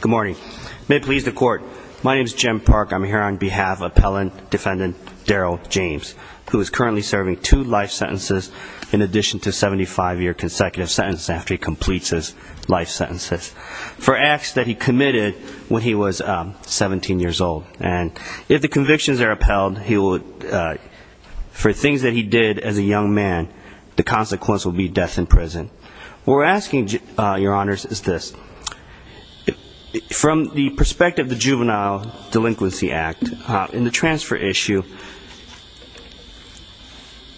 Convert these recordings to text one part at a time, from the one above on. Good morning. May it please the court. My name is Jim Park. I'm here on behalf of serving two life sentences in addition to a 75-year consecutive sentence after he completes his life sentences for acts that he committed when he was 17 years old. And if the convictions are upheld, he will, for things that he did as a young man, the consequence will be death in prison. What we're asking, your honors, is this. From the perspective of the Juvenile Delinquency Act, in the transfer issue,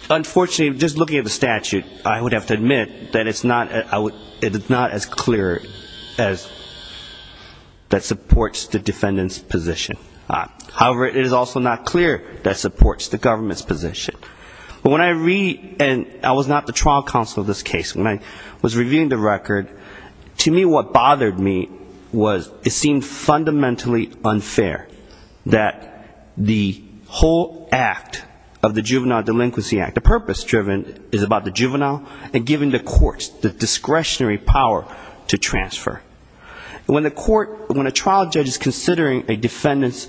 unfortunately, just looking at the statute, I would have to admit that it's not as clear as that supports the defendant's position. However, it is also not clear that supports the government's position. When I read, and I was not the trial counsel of this case, when I was reviewing the record, to me what bothered me was it seemed fundamentally unfair that the whole act of the Juvenile Delinquency Act, the purpose driven, is about the juvenile and giving the courts the discretionary power to transfer. When a trial judge is considering a defendant's,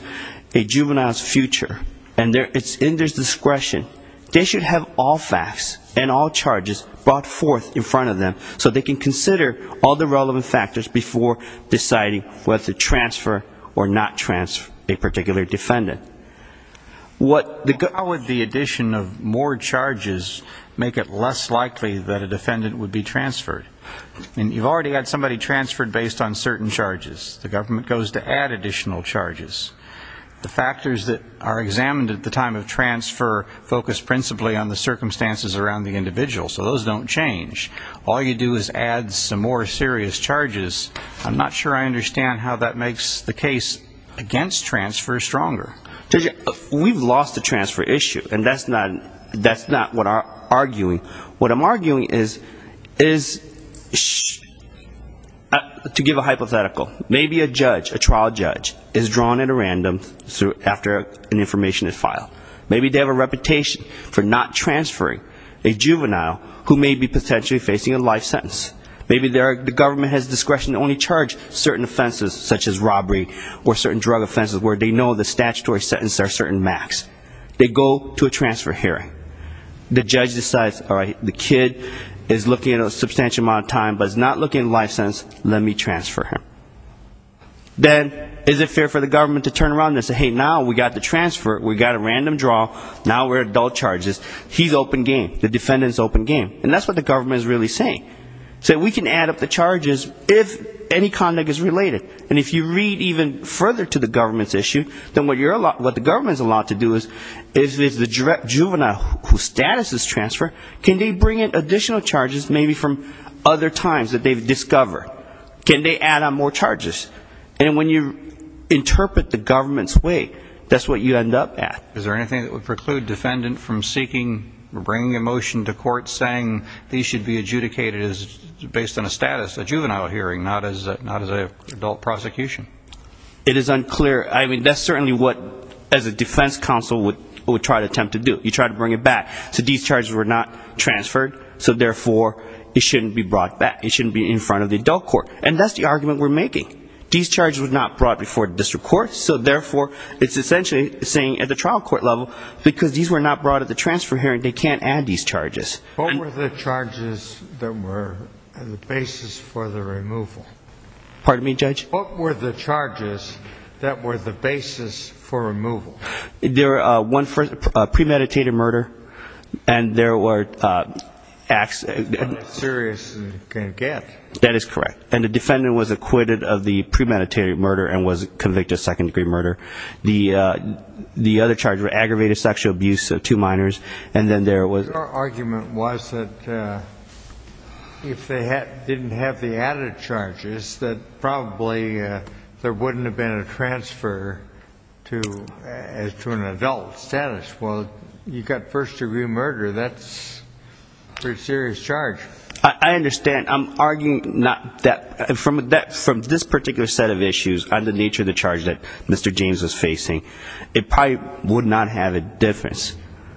a juvenile's future, and it's in their discretion, they should have all facts and all charges brought forth in front of them so they can consider all the relevant factors before deciding whether to transfer or not transfer a particular defendant. What the, how would the addition of more charges make it less likely that a defendant would be transferred? I mean, you've already had somebody transferred based on certain charges. The government goes to add additional charges. The factors that are examined at the time of transfer focus principally on the circumstances around the individual, so those don't change. All you do is add some more serious charges. I'm not sure I understand how that makes the case against transfer stronger. Judge, we've lost the transfer issue, and that's not, that's not what I'm arguing. What I'm arguing is, is, to give a hypothetical, maybe a judge, a trial judge, is drawn at a random after an information is filed. Maybe they have a reputation for not transferring a juvenile who may be potentially facing a life sentence. Maybe the government has discretion to only charge certain offenses such as robbery or certain drug offenses where they know the statutory sentences are certain max. They go to a transfer hearing. The judge decides, all right, the kid is looking at a substantial amount of time but is not looking at a life sentence, let me transfer him. Then, is it fair for the government to turn around and say, hey, now we got the transfer, we got a random draw, now we're at dull charges. He's open game. The defendant's open game. And that's what the government is really saying. So we can add up the charges if any conduct is related. And if you read even further to the government's issue, then what the government is allowed to do is, if the juvenile whose status is transferred, can they bring in additional charges maybe from other times that they've discovered? Can they add on more charges? And when you interpret the government's way, that's what you end up at. Is there anything that would preclude defendant from seeking, bringing a motion to court saying these should be adjudicated based on a status, a juvenile hearing, not as an adult prosecution? It is unclear. I mean, that's certainly what, as a defense counsel, would try to attempt to do. You try to bring it back. So these charges were not transferred, so therefore, it shouldn't be brought back. It shouldn't be in front of the adult court. And that's the argument we're making. These charges were not brought before the district court. So therefore, it's essentially saying, at the trial court level, because these were not brought at the transfer hearing, they can't add these charges. What were the charges that were the basis for the removal? Pardon me, Judge? What were the charges that were the basis for removal? There were one for premeditated murder, and there were acts... That's not as serious as you can get. That is correct. And the defendant was acquitted of the premeditated murder and was convicted of second-degree murder. The other charges were aggravated sexual abuse of two minors, and then there was... Your argument was that if they didn't have the added charges, that probably there wouldn't have been a transfer to an adult status. Well, you got first-degree murder. That's a pretty serious charge. I understand. I'm arguing not that... From this particular set of issues, on the nature of the charge that Mr. James was facing, it probably would not have a difference.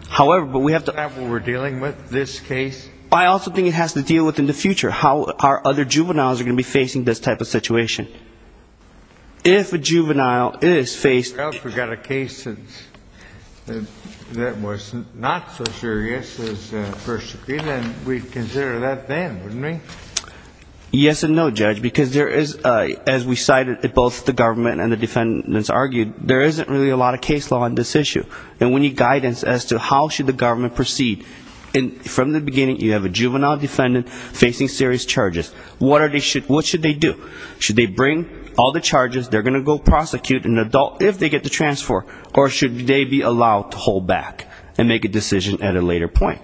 However, but we have to... Is that what we're dealing with, this case? I also think it has to deal with, in the future, how our other juveniles are going to be facing this type of situation. If a juvenile is faced... I forgot a case that was not so serious as first-degree, then we'd consider that then, wouldn't we? Yes and no, Judge, because there is, as we cited, both the government and the defendants argued, there isn't really a lot of case law on this issue. And we need guidance as to how should the government proceed. From the beginning, you have a juvenile defendant facing serious charges. What should they do? Should they bring all the charges? They're going to go prosecute an adult if they get the transfer, or should they be allowed to hold back and make a decision at a later point?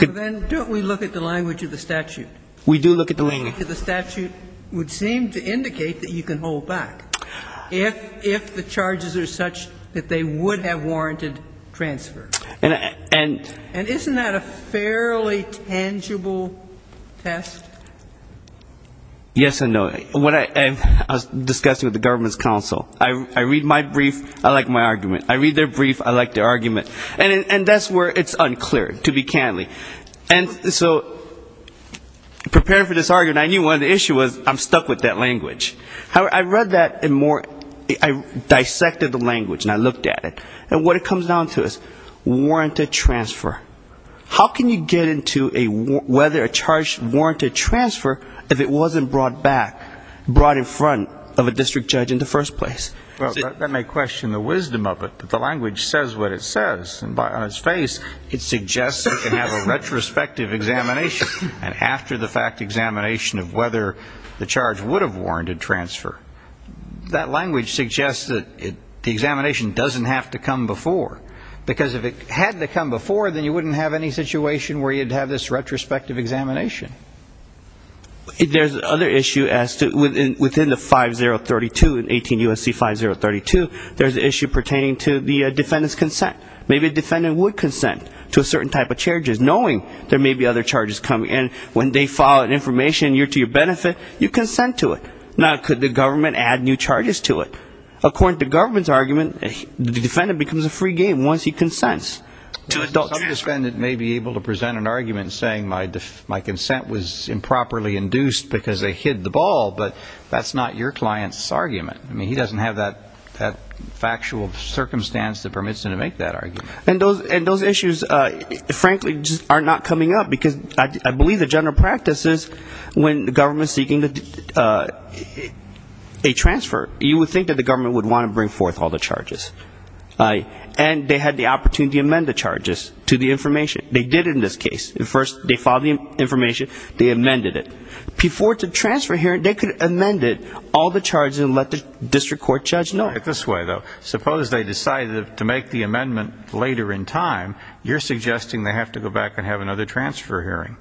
Well, then, don't we look at the language of the statute? We do look at the language. The language of the statute would seem to indicate that you can hold back if the charges are such that they would have warranted transfer. And isn't that a fairly tangible test? Yes and no. When I was discussing with the government's counsel, I read my brief, I like my argument. I read their brief, I like their argument. And that's where it's unclear, to be candid. And so, preparing for this argument, I knew one of the issues was I'm stuck with that language. I read that and more, I dissected the language and I looked at it. And what it comes down to is warranted transfer. How can you get into a whether a charge warranted transfer if it wasn't brought back, brought in front of a district judge in the first place? Well, that may question the wisdom of it, but the language says what it says. And on its face, it suggests you can have a retrospective examination. And after the fact examination of whether the charge would have warranted transfer, that language suggests that the examination doesn't have to come before. Because if it had to come before, then you wouldn't have any situation where you'd have this retrospective examination. There's other issue as to, within the 5032, 18 U.S.C. 5032, there's an issue pertaining to the defendant's consent. Maybe a defendant would consent to a certain type of charges knowing there may be other charges coming. And when they file an information to your benefit, you consent to it. Now, could the government add new charges to it? According to the government's argument, the defendant becomes a free game once he consents to adult charges. The defendant may be able to present an argument saying my consent was improperly induced because they hid the ball, but that's not your client's argument. I mean, he doesn't have that factual circumstance that permits him to make that argument. And those issues, frankly, are not coming up. Because I believe the general practice is when the government is seeking a transfer, you would think that the government would want to bring forth all the charges. And they had the opportunity to amend the charges to the information. They did it in this case. First, they filed the information. They amended it. Before the transfer hearing, they could amend it, all the charges, and let the district court judge know. I get this way, though. Suppose they decided to make the amendment later in time. You're suggesting they have to go back and have another transfer hearing.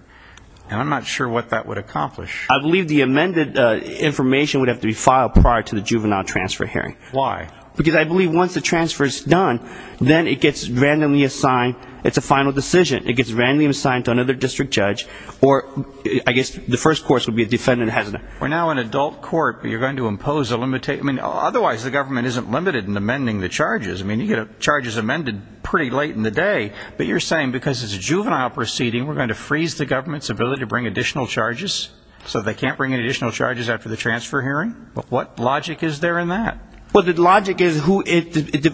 And I'm not sure what that would accomplish. I believe the amended information would have to be filed prior to the juvenile transfer hearing. Why? Because I believe once the transfer is done, then it gets randomly assigned. It's a final decision. It gets randomly assigned to another district judge, or I guess the first course would be the defendant has it. We're now in adult court, but you're going to impose a limitation. I mean, otherwise the government isn't limited in amending the charges. I mean, you get charges amended pretty late in the day. But you're saying because it's a juvenile proceeding, we're going to freeze the government's ability to bring additional charges, so they can't bring in additional charges after the transfer hearing? What logic is there in that? Well, the logic is,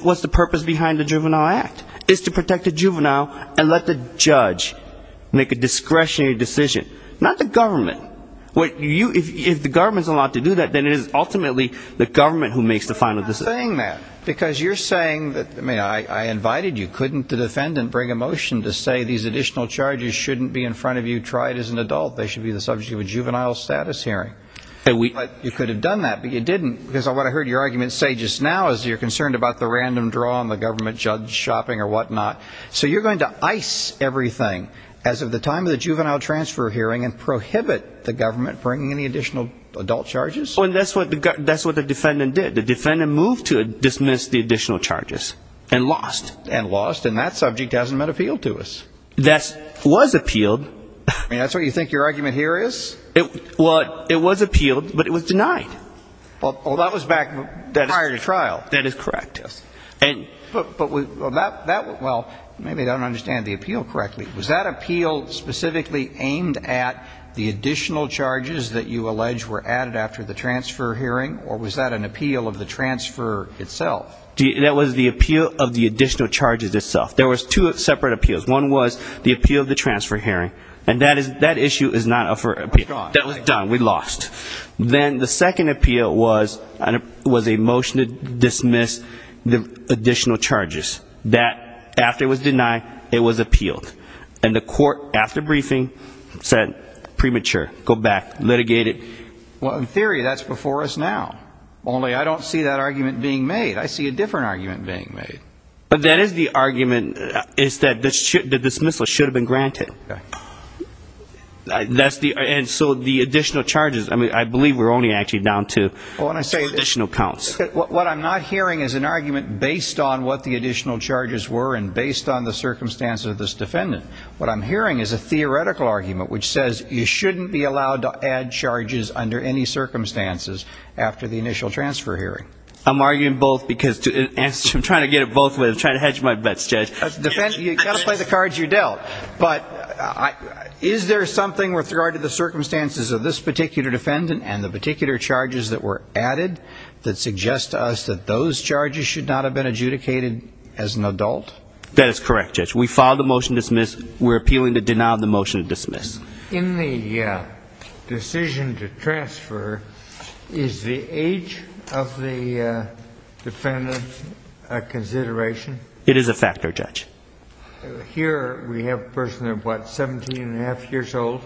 what's the purpose behind the juvenile act? It's to protect the juvenile and let the judge make a discretionary decision. Not the government. If the government's allowed to do that, then it is ultimately the government who makes the final decision. I'm not saying that. Because you're saying that, I mean, I invited you. Couldn't the defendant bring a motion to say these additional charges shouldn't be in front of you tried as an adult? They should be the subject of a juvenile status hearing. You could have done that, but you didn't. Because what I heard your argument say just now is you're concerned about the random draw on the government, judge shopping or whatnot. So you're going to ice everything as of the time of the juvenile transfer hearing and prohibit the government bringing any additional adult charges? Oh, and that's what the defendant did. The defendant moved to dismiss the additional charges. And lost. And lost. And that subject hasn't been appealed to us. That was appealed. I mean, that's what you think your argument here is? Well, it was appealed, but it was denied. Well, that was back prior to trial. That is correct. But that, well, maybe I don't understand the appeal correctly. Was that appeal specifically aimed at the additional charges that you allege were added after the transfer hearing? Or was that an appeal of the transfer itself? That was the appeal of the additional charges itself. There was two separate appeals. One was the appeal of the transfer hearing. And that issue is not up for appeal. That was gone. That was done. We lost. Then the second appeal was a motion to dismiss the additional charges. That after it was denied, it was appealed. And the court, after briefing, said premature. Go back. Litigate it. Well, in theory, that's before us now. Only I don't see that argument being made. I see a different argument being made. But that is the argument. It's that the dismissal should have been granted. And so the additional charges, I mean, I believe we're only actually down to additional counts. What I'm not hearing is an argument based on what the additional charges were and based on the circumstances of this defendant. What I'm hearing is a theoretical argument which says you shouldn't be allowed to add charges under any circumstances after the initial transfer hearing. I'm arguing both because I'm trying to get it both ways. I'm trying to hedge my bets, Judge. You've got to play the cards you dealt. But is there something with regard to the circumstances of this particular defendant and the particular charges that were added that suggest to us that those charges should not have been adjudicated as an adult? That is correct, Judge. We filed a motion to dismiss. We're appealing to deny the motion to dismiss. In the decision to transfer, is the age of the defendant a consideration? It is a factor, Judge. Here we have a person of, what, 17 and a half years old.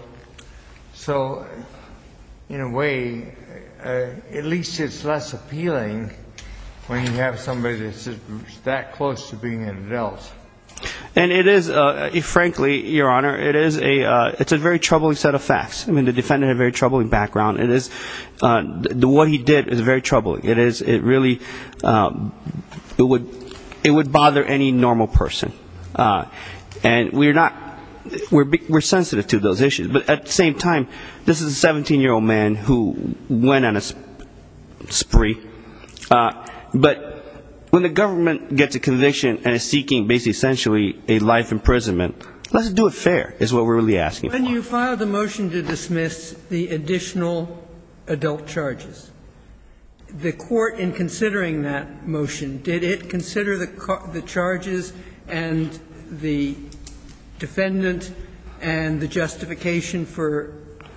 So, in a way, at least it's less appealing when you have somebody that's that close to being an adult. And it is, frankly, Your Honor, it is a very troubling set of facts. I mean, the defendant had a very troubling background. What he did is very troubling. It is, it really, it would bother any normal person. And we're not, we're sensitive to those issues. But at the same time, this is a 17-year-old man who went on a spree. But when the government gets a conviction and is seeking, basically, essentially, a life imprisonment, let's do it fair, is what we're really asking for. When you filed the motion to dismiss the additional adult charges, the court, in considering that the charges and the defendant and the justification for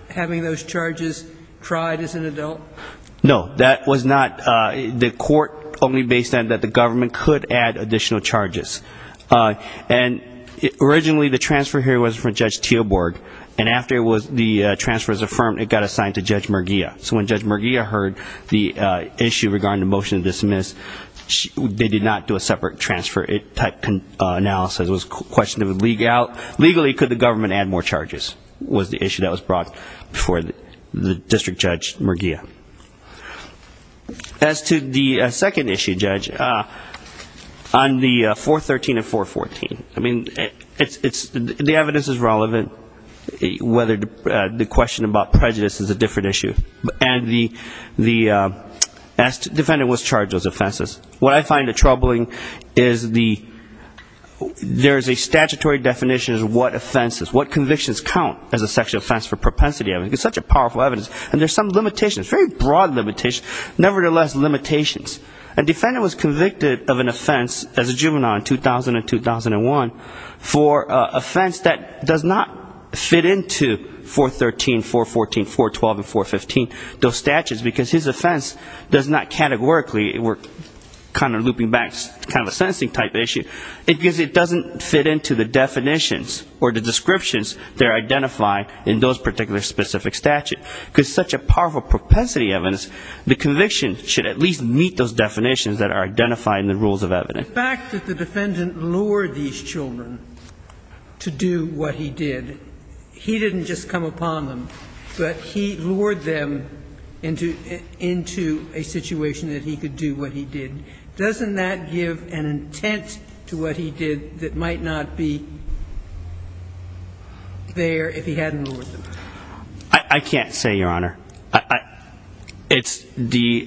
having those charges tried as an adult? No. That was not, the court only based on that the government could add additional charges. And originally, the transfer here was from Judge Teelborg. And after it was, the transfer was affirmed, it got assigned to Judge Merguia. So when Judge Merguia heard the issue regarding the motion to dismiss, they did not do a separate transfer type analysis. It was a question of, legally, could the government add more charges, was the issue that was brought before the district judge, Merguia. As to the second issue, Judge, on the 413 and 414, I mean, it's, the evidence is relevant, whether the question about prejudice is a different issue. And the defendant was charged with offenses. What I find troubling is the, there's a statutory definition of what offenses, what convictions count as a sexual offense for propensity. I mean, it's such a powerful evidence. And there's some limitations, very broad limitations, nevertheless, limitations. A defendant was convicted of an offense as a juvenile in 2000 and 2001 for an offense that does not fit into 413, 414, 412, and 415, those statutes, because his offense does not categorically, we're kind of looping back, kind of a sentencing type issue, because it doesn't fit into the definitions or the descriptions that are identified in those particular specific statutes. Because such a powerful propensity evidence, the conviction should at least meet those definitions that are identified in the rules of evidence. The fact that the defendant lured these children to do what he did, he didn't just come upon them, but he lured them into a situation that he could do what he did. Doesn't that give an intent to what he did that might not be there if he hadn't lured them? I can't say, Your Honor. It's the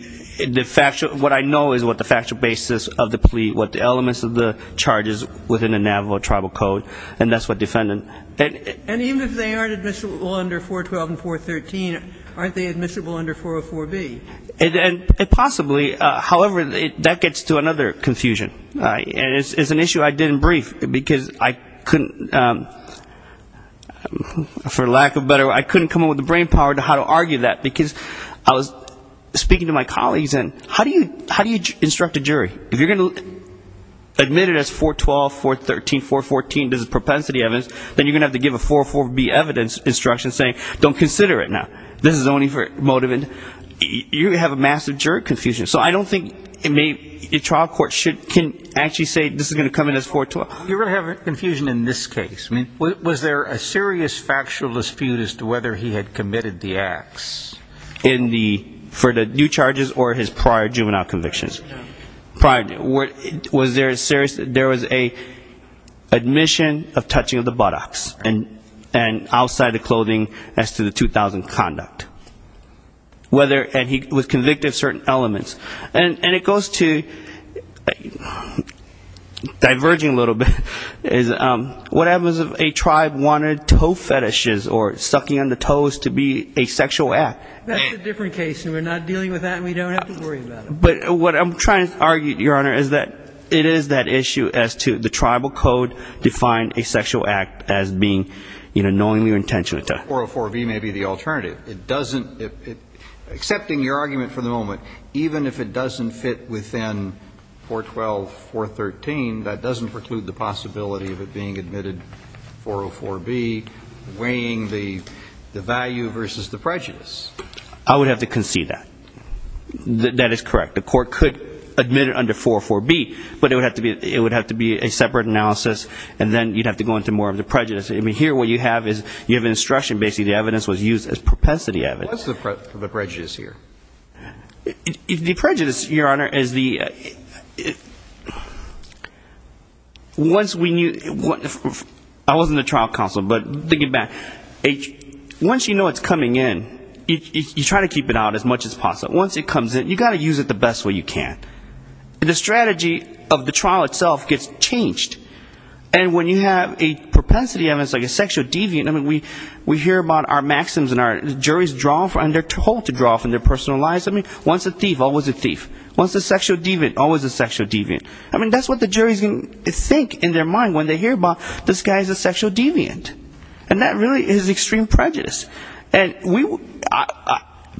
factual, what I know is what the factual basis of the charges within the Navajo Tribal Code, and that's what defendant. And even if they aren't admissible under 412 and 413, aren't they admissible under 404B? Possibly. However, that gets to another confusion. And it's an issue I didn't brief, because I couldn't, for lack of better, I couldn't come up with the brain power to how to argue that, because I was speaking to my colleagues, and how do you instruct a jury? If you're going to admit it as 412, 413, 414, there's a propensity evidence, then you're going to have to give a 404B evidence instruction saying, don't consider it now. This is only for motive and you have a massive jury confusion. So I don't think a trial court can actually say this is going to come in as 412. You're going to have confusion in this case. Was there a serious factual dispute as to whether he had committed the acts? For the due charges or his prior juvenile convictions? Was there a serious, there was a admission of touching of the buttocks, and outside of clothing as to the 2000 conduct? Whether, and he was convicted of certain elements. And it goes to, diverging a little bit, is what happens if a tribe wanted toe fetishes or sucking on the toes to be a sexual act. That's a different case, and we're not dealing with that, and we don't have to worry about it. But what I'm trying to argue, Your Honor, is that it is that issue as to the tribal code defined a sexual act as being, you know, knowingly or intentionally. 404B may be the alternative. It doesn't, except in your argument for the moment, even if it doesn't fit within 412, 413, that doesn't preclude the possibility of it being admitted under 404B, weighing the value versus the prejudice. I would have to concede that. That is correct. The court could admit it under 404B, but it would have to be a separate analysis, and then you'd have to go into more of the prejudice. I mean, here what you have is you have an instruction. Basically, the evidence was used as propensity evidence. What's the prejudice here? The prejudice, Your Honor, is the once we knew, I wasn't a trial counsel, but thinking back, once you know it's coming in, you try to keep it out as much as possible. Once it comes in, you've got to use it the best way you can. The strategy of the trial itself gets changed, and when you have a propensity evidence like a person who lies to me, once a thief, always a thief. Once a sexual deviant, always a sexual deviant. I mean, that's what the jury's going to think in their mind when they hear about this guy is a sexual deviant. And that really is extreme prejudice.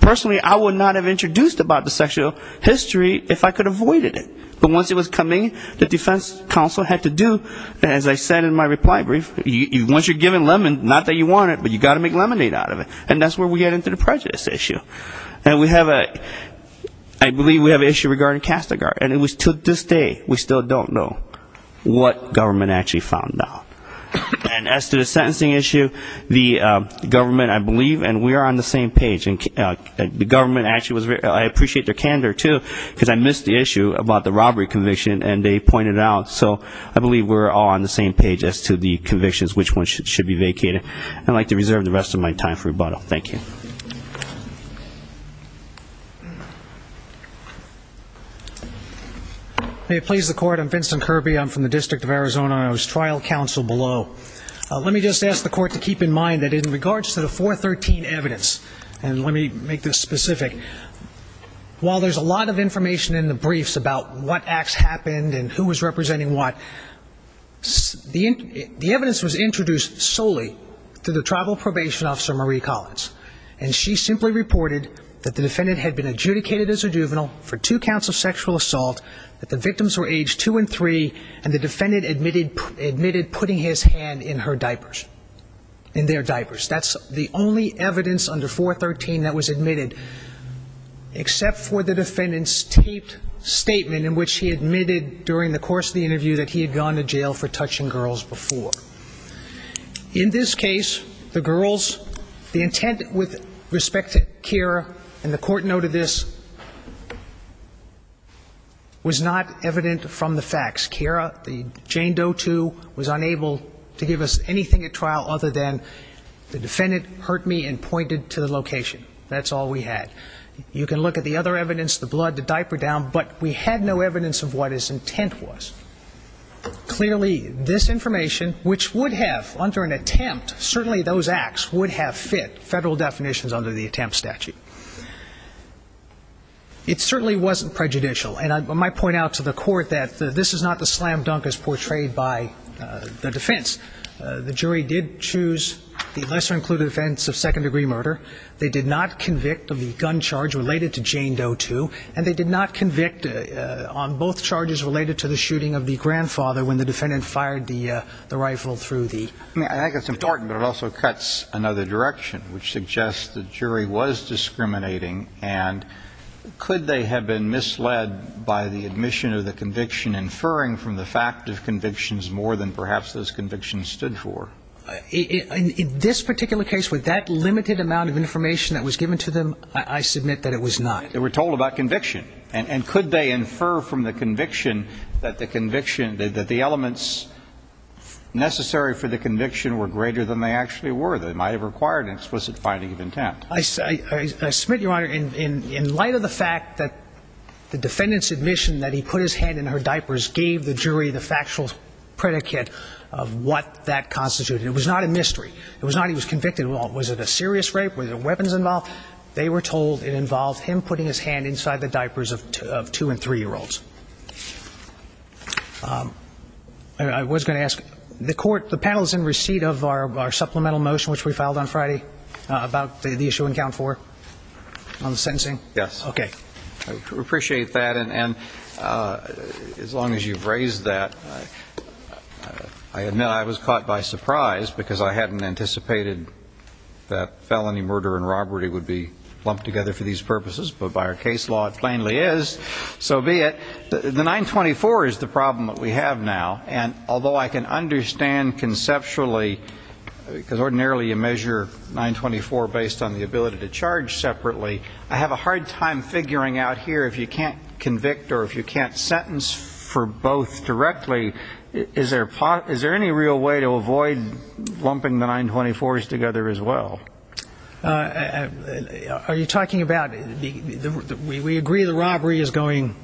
Personally, I would not have introduced about the sexual history if I could have avoided it. But once it was coming in, the defense counsel had to do, as I said in my reply brief, once you're a criminal, you have to do it. So we have a, I believe we have an issue regarding Kastigar, and to this day, we still don't know what government actually found out. And as to the sentencing issue, the government, I believe, and we are on the same page, and the government actually was, I appreciate their candor, too, because I missed the issue about the Kastigar case. May it please the court, I'm Vincent Kirby, I'm from the District of Arizona, and I was trial counsel below. Let me just ask the court to keep in mind that in regards to the 413 evidence, and let me make this specific, while there's a lot of information in the briefs about what acts happened and who was representing what, the evidence was introduced solely to the tribal probation officer, Marie Collins, and she simply reported that the defendant had been adjudicated as a juvenile for two counts of sexual assault, that the victims were aged two and three, and the defendant admitted putting his hand in her diapers, in their diapers. That's the only evidence under 413 that was admitted, except for the defendant's taped statement in which he admitted during the course of the interview that he had gone to jail for touching girls before. In this case, the girls, the intent with respect to Kira, and the court noted this, was not evident from the facts. Kira, the Jane Doe, too, was unable to give us anything at trial other than the defendant hurt me and pointed to the location. That's all we had. You can look at the other evidence, the blood, the diaper down, but we had no evidence of what his intent was. Clearly, this information, which would have, under an attempt, certainly those acts would have fit federal definitions under the attempt statute. It certainly wasn't prejudicial, and I might point out to the court that this is not the slam dunk as portrayed by the defense. The jury did choose the lesser-included offense of second-degree murder. They did not convict of the gun and the gun, and the jury did not convict of the gun. I think it's important, but it also cuts another direction, which suggests the jury was discriminating, and could they have been misled by the admission of the conviction, inferring from the fact of convictions more than perhaps those convictions stood for? In this particular case, with that limited amount of information that was given to them, I submit that it was not. It was a conviction that the conviction, that the elements necessary for the conviction were greater than they actually were. They might have required an explicit finding of intent. I submit, Your Honor, in light of the fact that the defendant's admission that he put his hand in her diapers gave the jury the factual predicate of what that constituted. It was not a mystery. It was not he was convicted. Was it a serious rape? Were there weapons involved? They were told it involved him putting his hand inside the diapers of two- and three-year-olds. I was going to ask, the panel is in receipt of our supplemental motion, which we filed on Friday, about the issue in Count 4, on the sentencing? Yes. I appreciate that, and as long as you've raised that, I admit I was caught by surprise, because I hadn't anticipated that felony was going to be a felony. So be it. The 924 is the problem that we have now, and although I can understand conceptually, because ordinarily you measure 924 based on the ability to charge separately, I have a hard time figuring out here, if you can't convict or if you can't sentence for both directly, is there any real way to avoid lumping the 924s together as well? Are you talking about, we agree the robbery is going...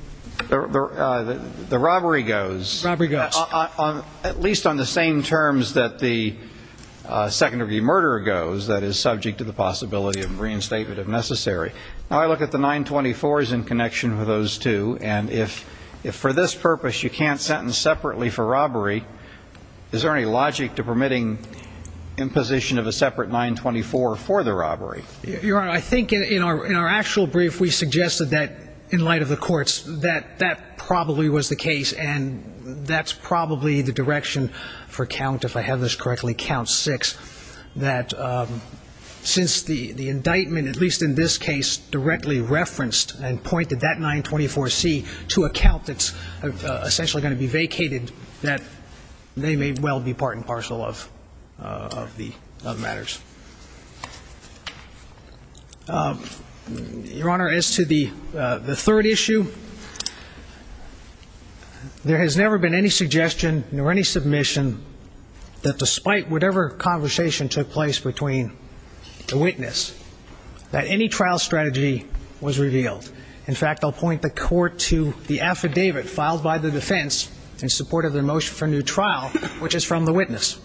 The robbery goes. Robbery goes. At least on the same terms that the second-degree murder goes, that is subject to the possibility of reinstatement if necessary. Now I look at the 924s in connection with those two, and if for this purpose you can't sentence separately for robbery, is there any logic to permitting imposition of a separate 924? Your Honor, I think in our actual brief we suggested that, in light of the courts, that that probably was the case, and that's probably the direction for count, if I have this correctly, count 6, that since the indictment, at least in this case, directly referenced and pointed that 924C to a count that's essentially going to be vacated, that they may well be part and parcel of the matters. Your Honor, as to the third issue, there has never been any suggestion or any submission that despite whatever conversation took place between the witness, that any trial strategy was revealed. In fact, I'll point the court to the affidavit filed by the defense in support of their motion for a new trial, which is from the witness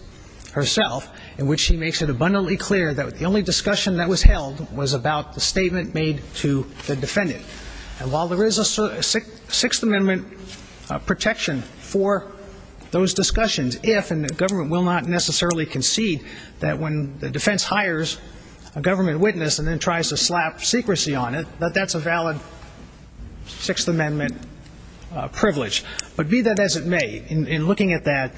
herself, in which she makes it abundantly clear that the only way to get to the bottom of this case is to get to the bottom of it. The only discussion that was held was about the statement made to the defendant. And while there is a Sixth Amendment protection for those discussions, if, and the government will not necessarily concede, that when the defense hires a government witness and then tries to slap secrecy on it, that that's a valid Sixth Amendment privilege. But be that as it may, in looking at that,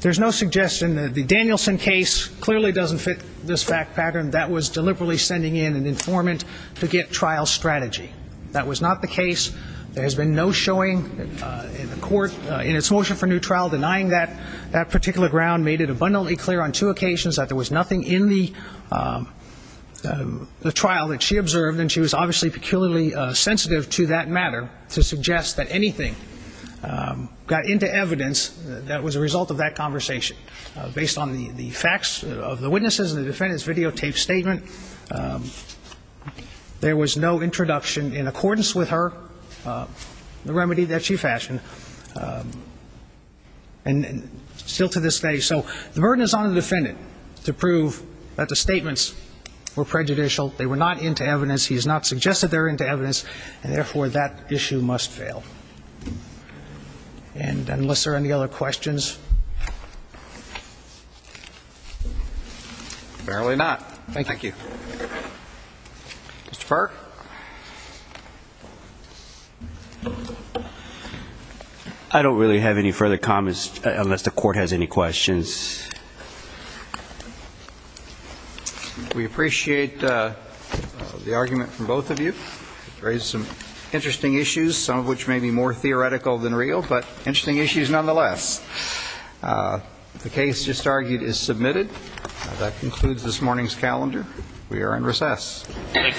there's no suggestion that the Danielson case clearly doesn't fit this fact pattern. That was deliberately sending in an informant to get trial strategy. That was not the case. There has been no showing in the court in its motion for a new trial. Denying that particular ground made it abundantly clear on two occasions that there was nothing in the trial that she observed. And she was obviously peculiarly sensitive to that matter to suggest that anything got into evidence that was a result of that conversation. Based on the facts of the witnesses and the defendant's videotaped statement, there was no introduction in accordance with her, the remedy that she fashioned. And still to this day. So the burden is on the defendant to prove that the statements were prejudicial. They were not into evidence. He has not suggested they're into evidence. And therefore, that issue must fail. And unless there are any other questions. Fairly not. Thank you. Mr. Park. I don't really have any further comments unless the court has any questions. We appreciate the argument from both of you. Raised some interesting issues, some of which may be more theoretical than real, but interesting issues nonetheless. The case just argued is submitted. That concludes this morning's calendar. We are in recess. Thank you. Thank you.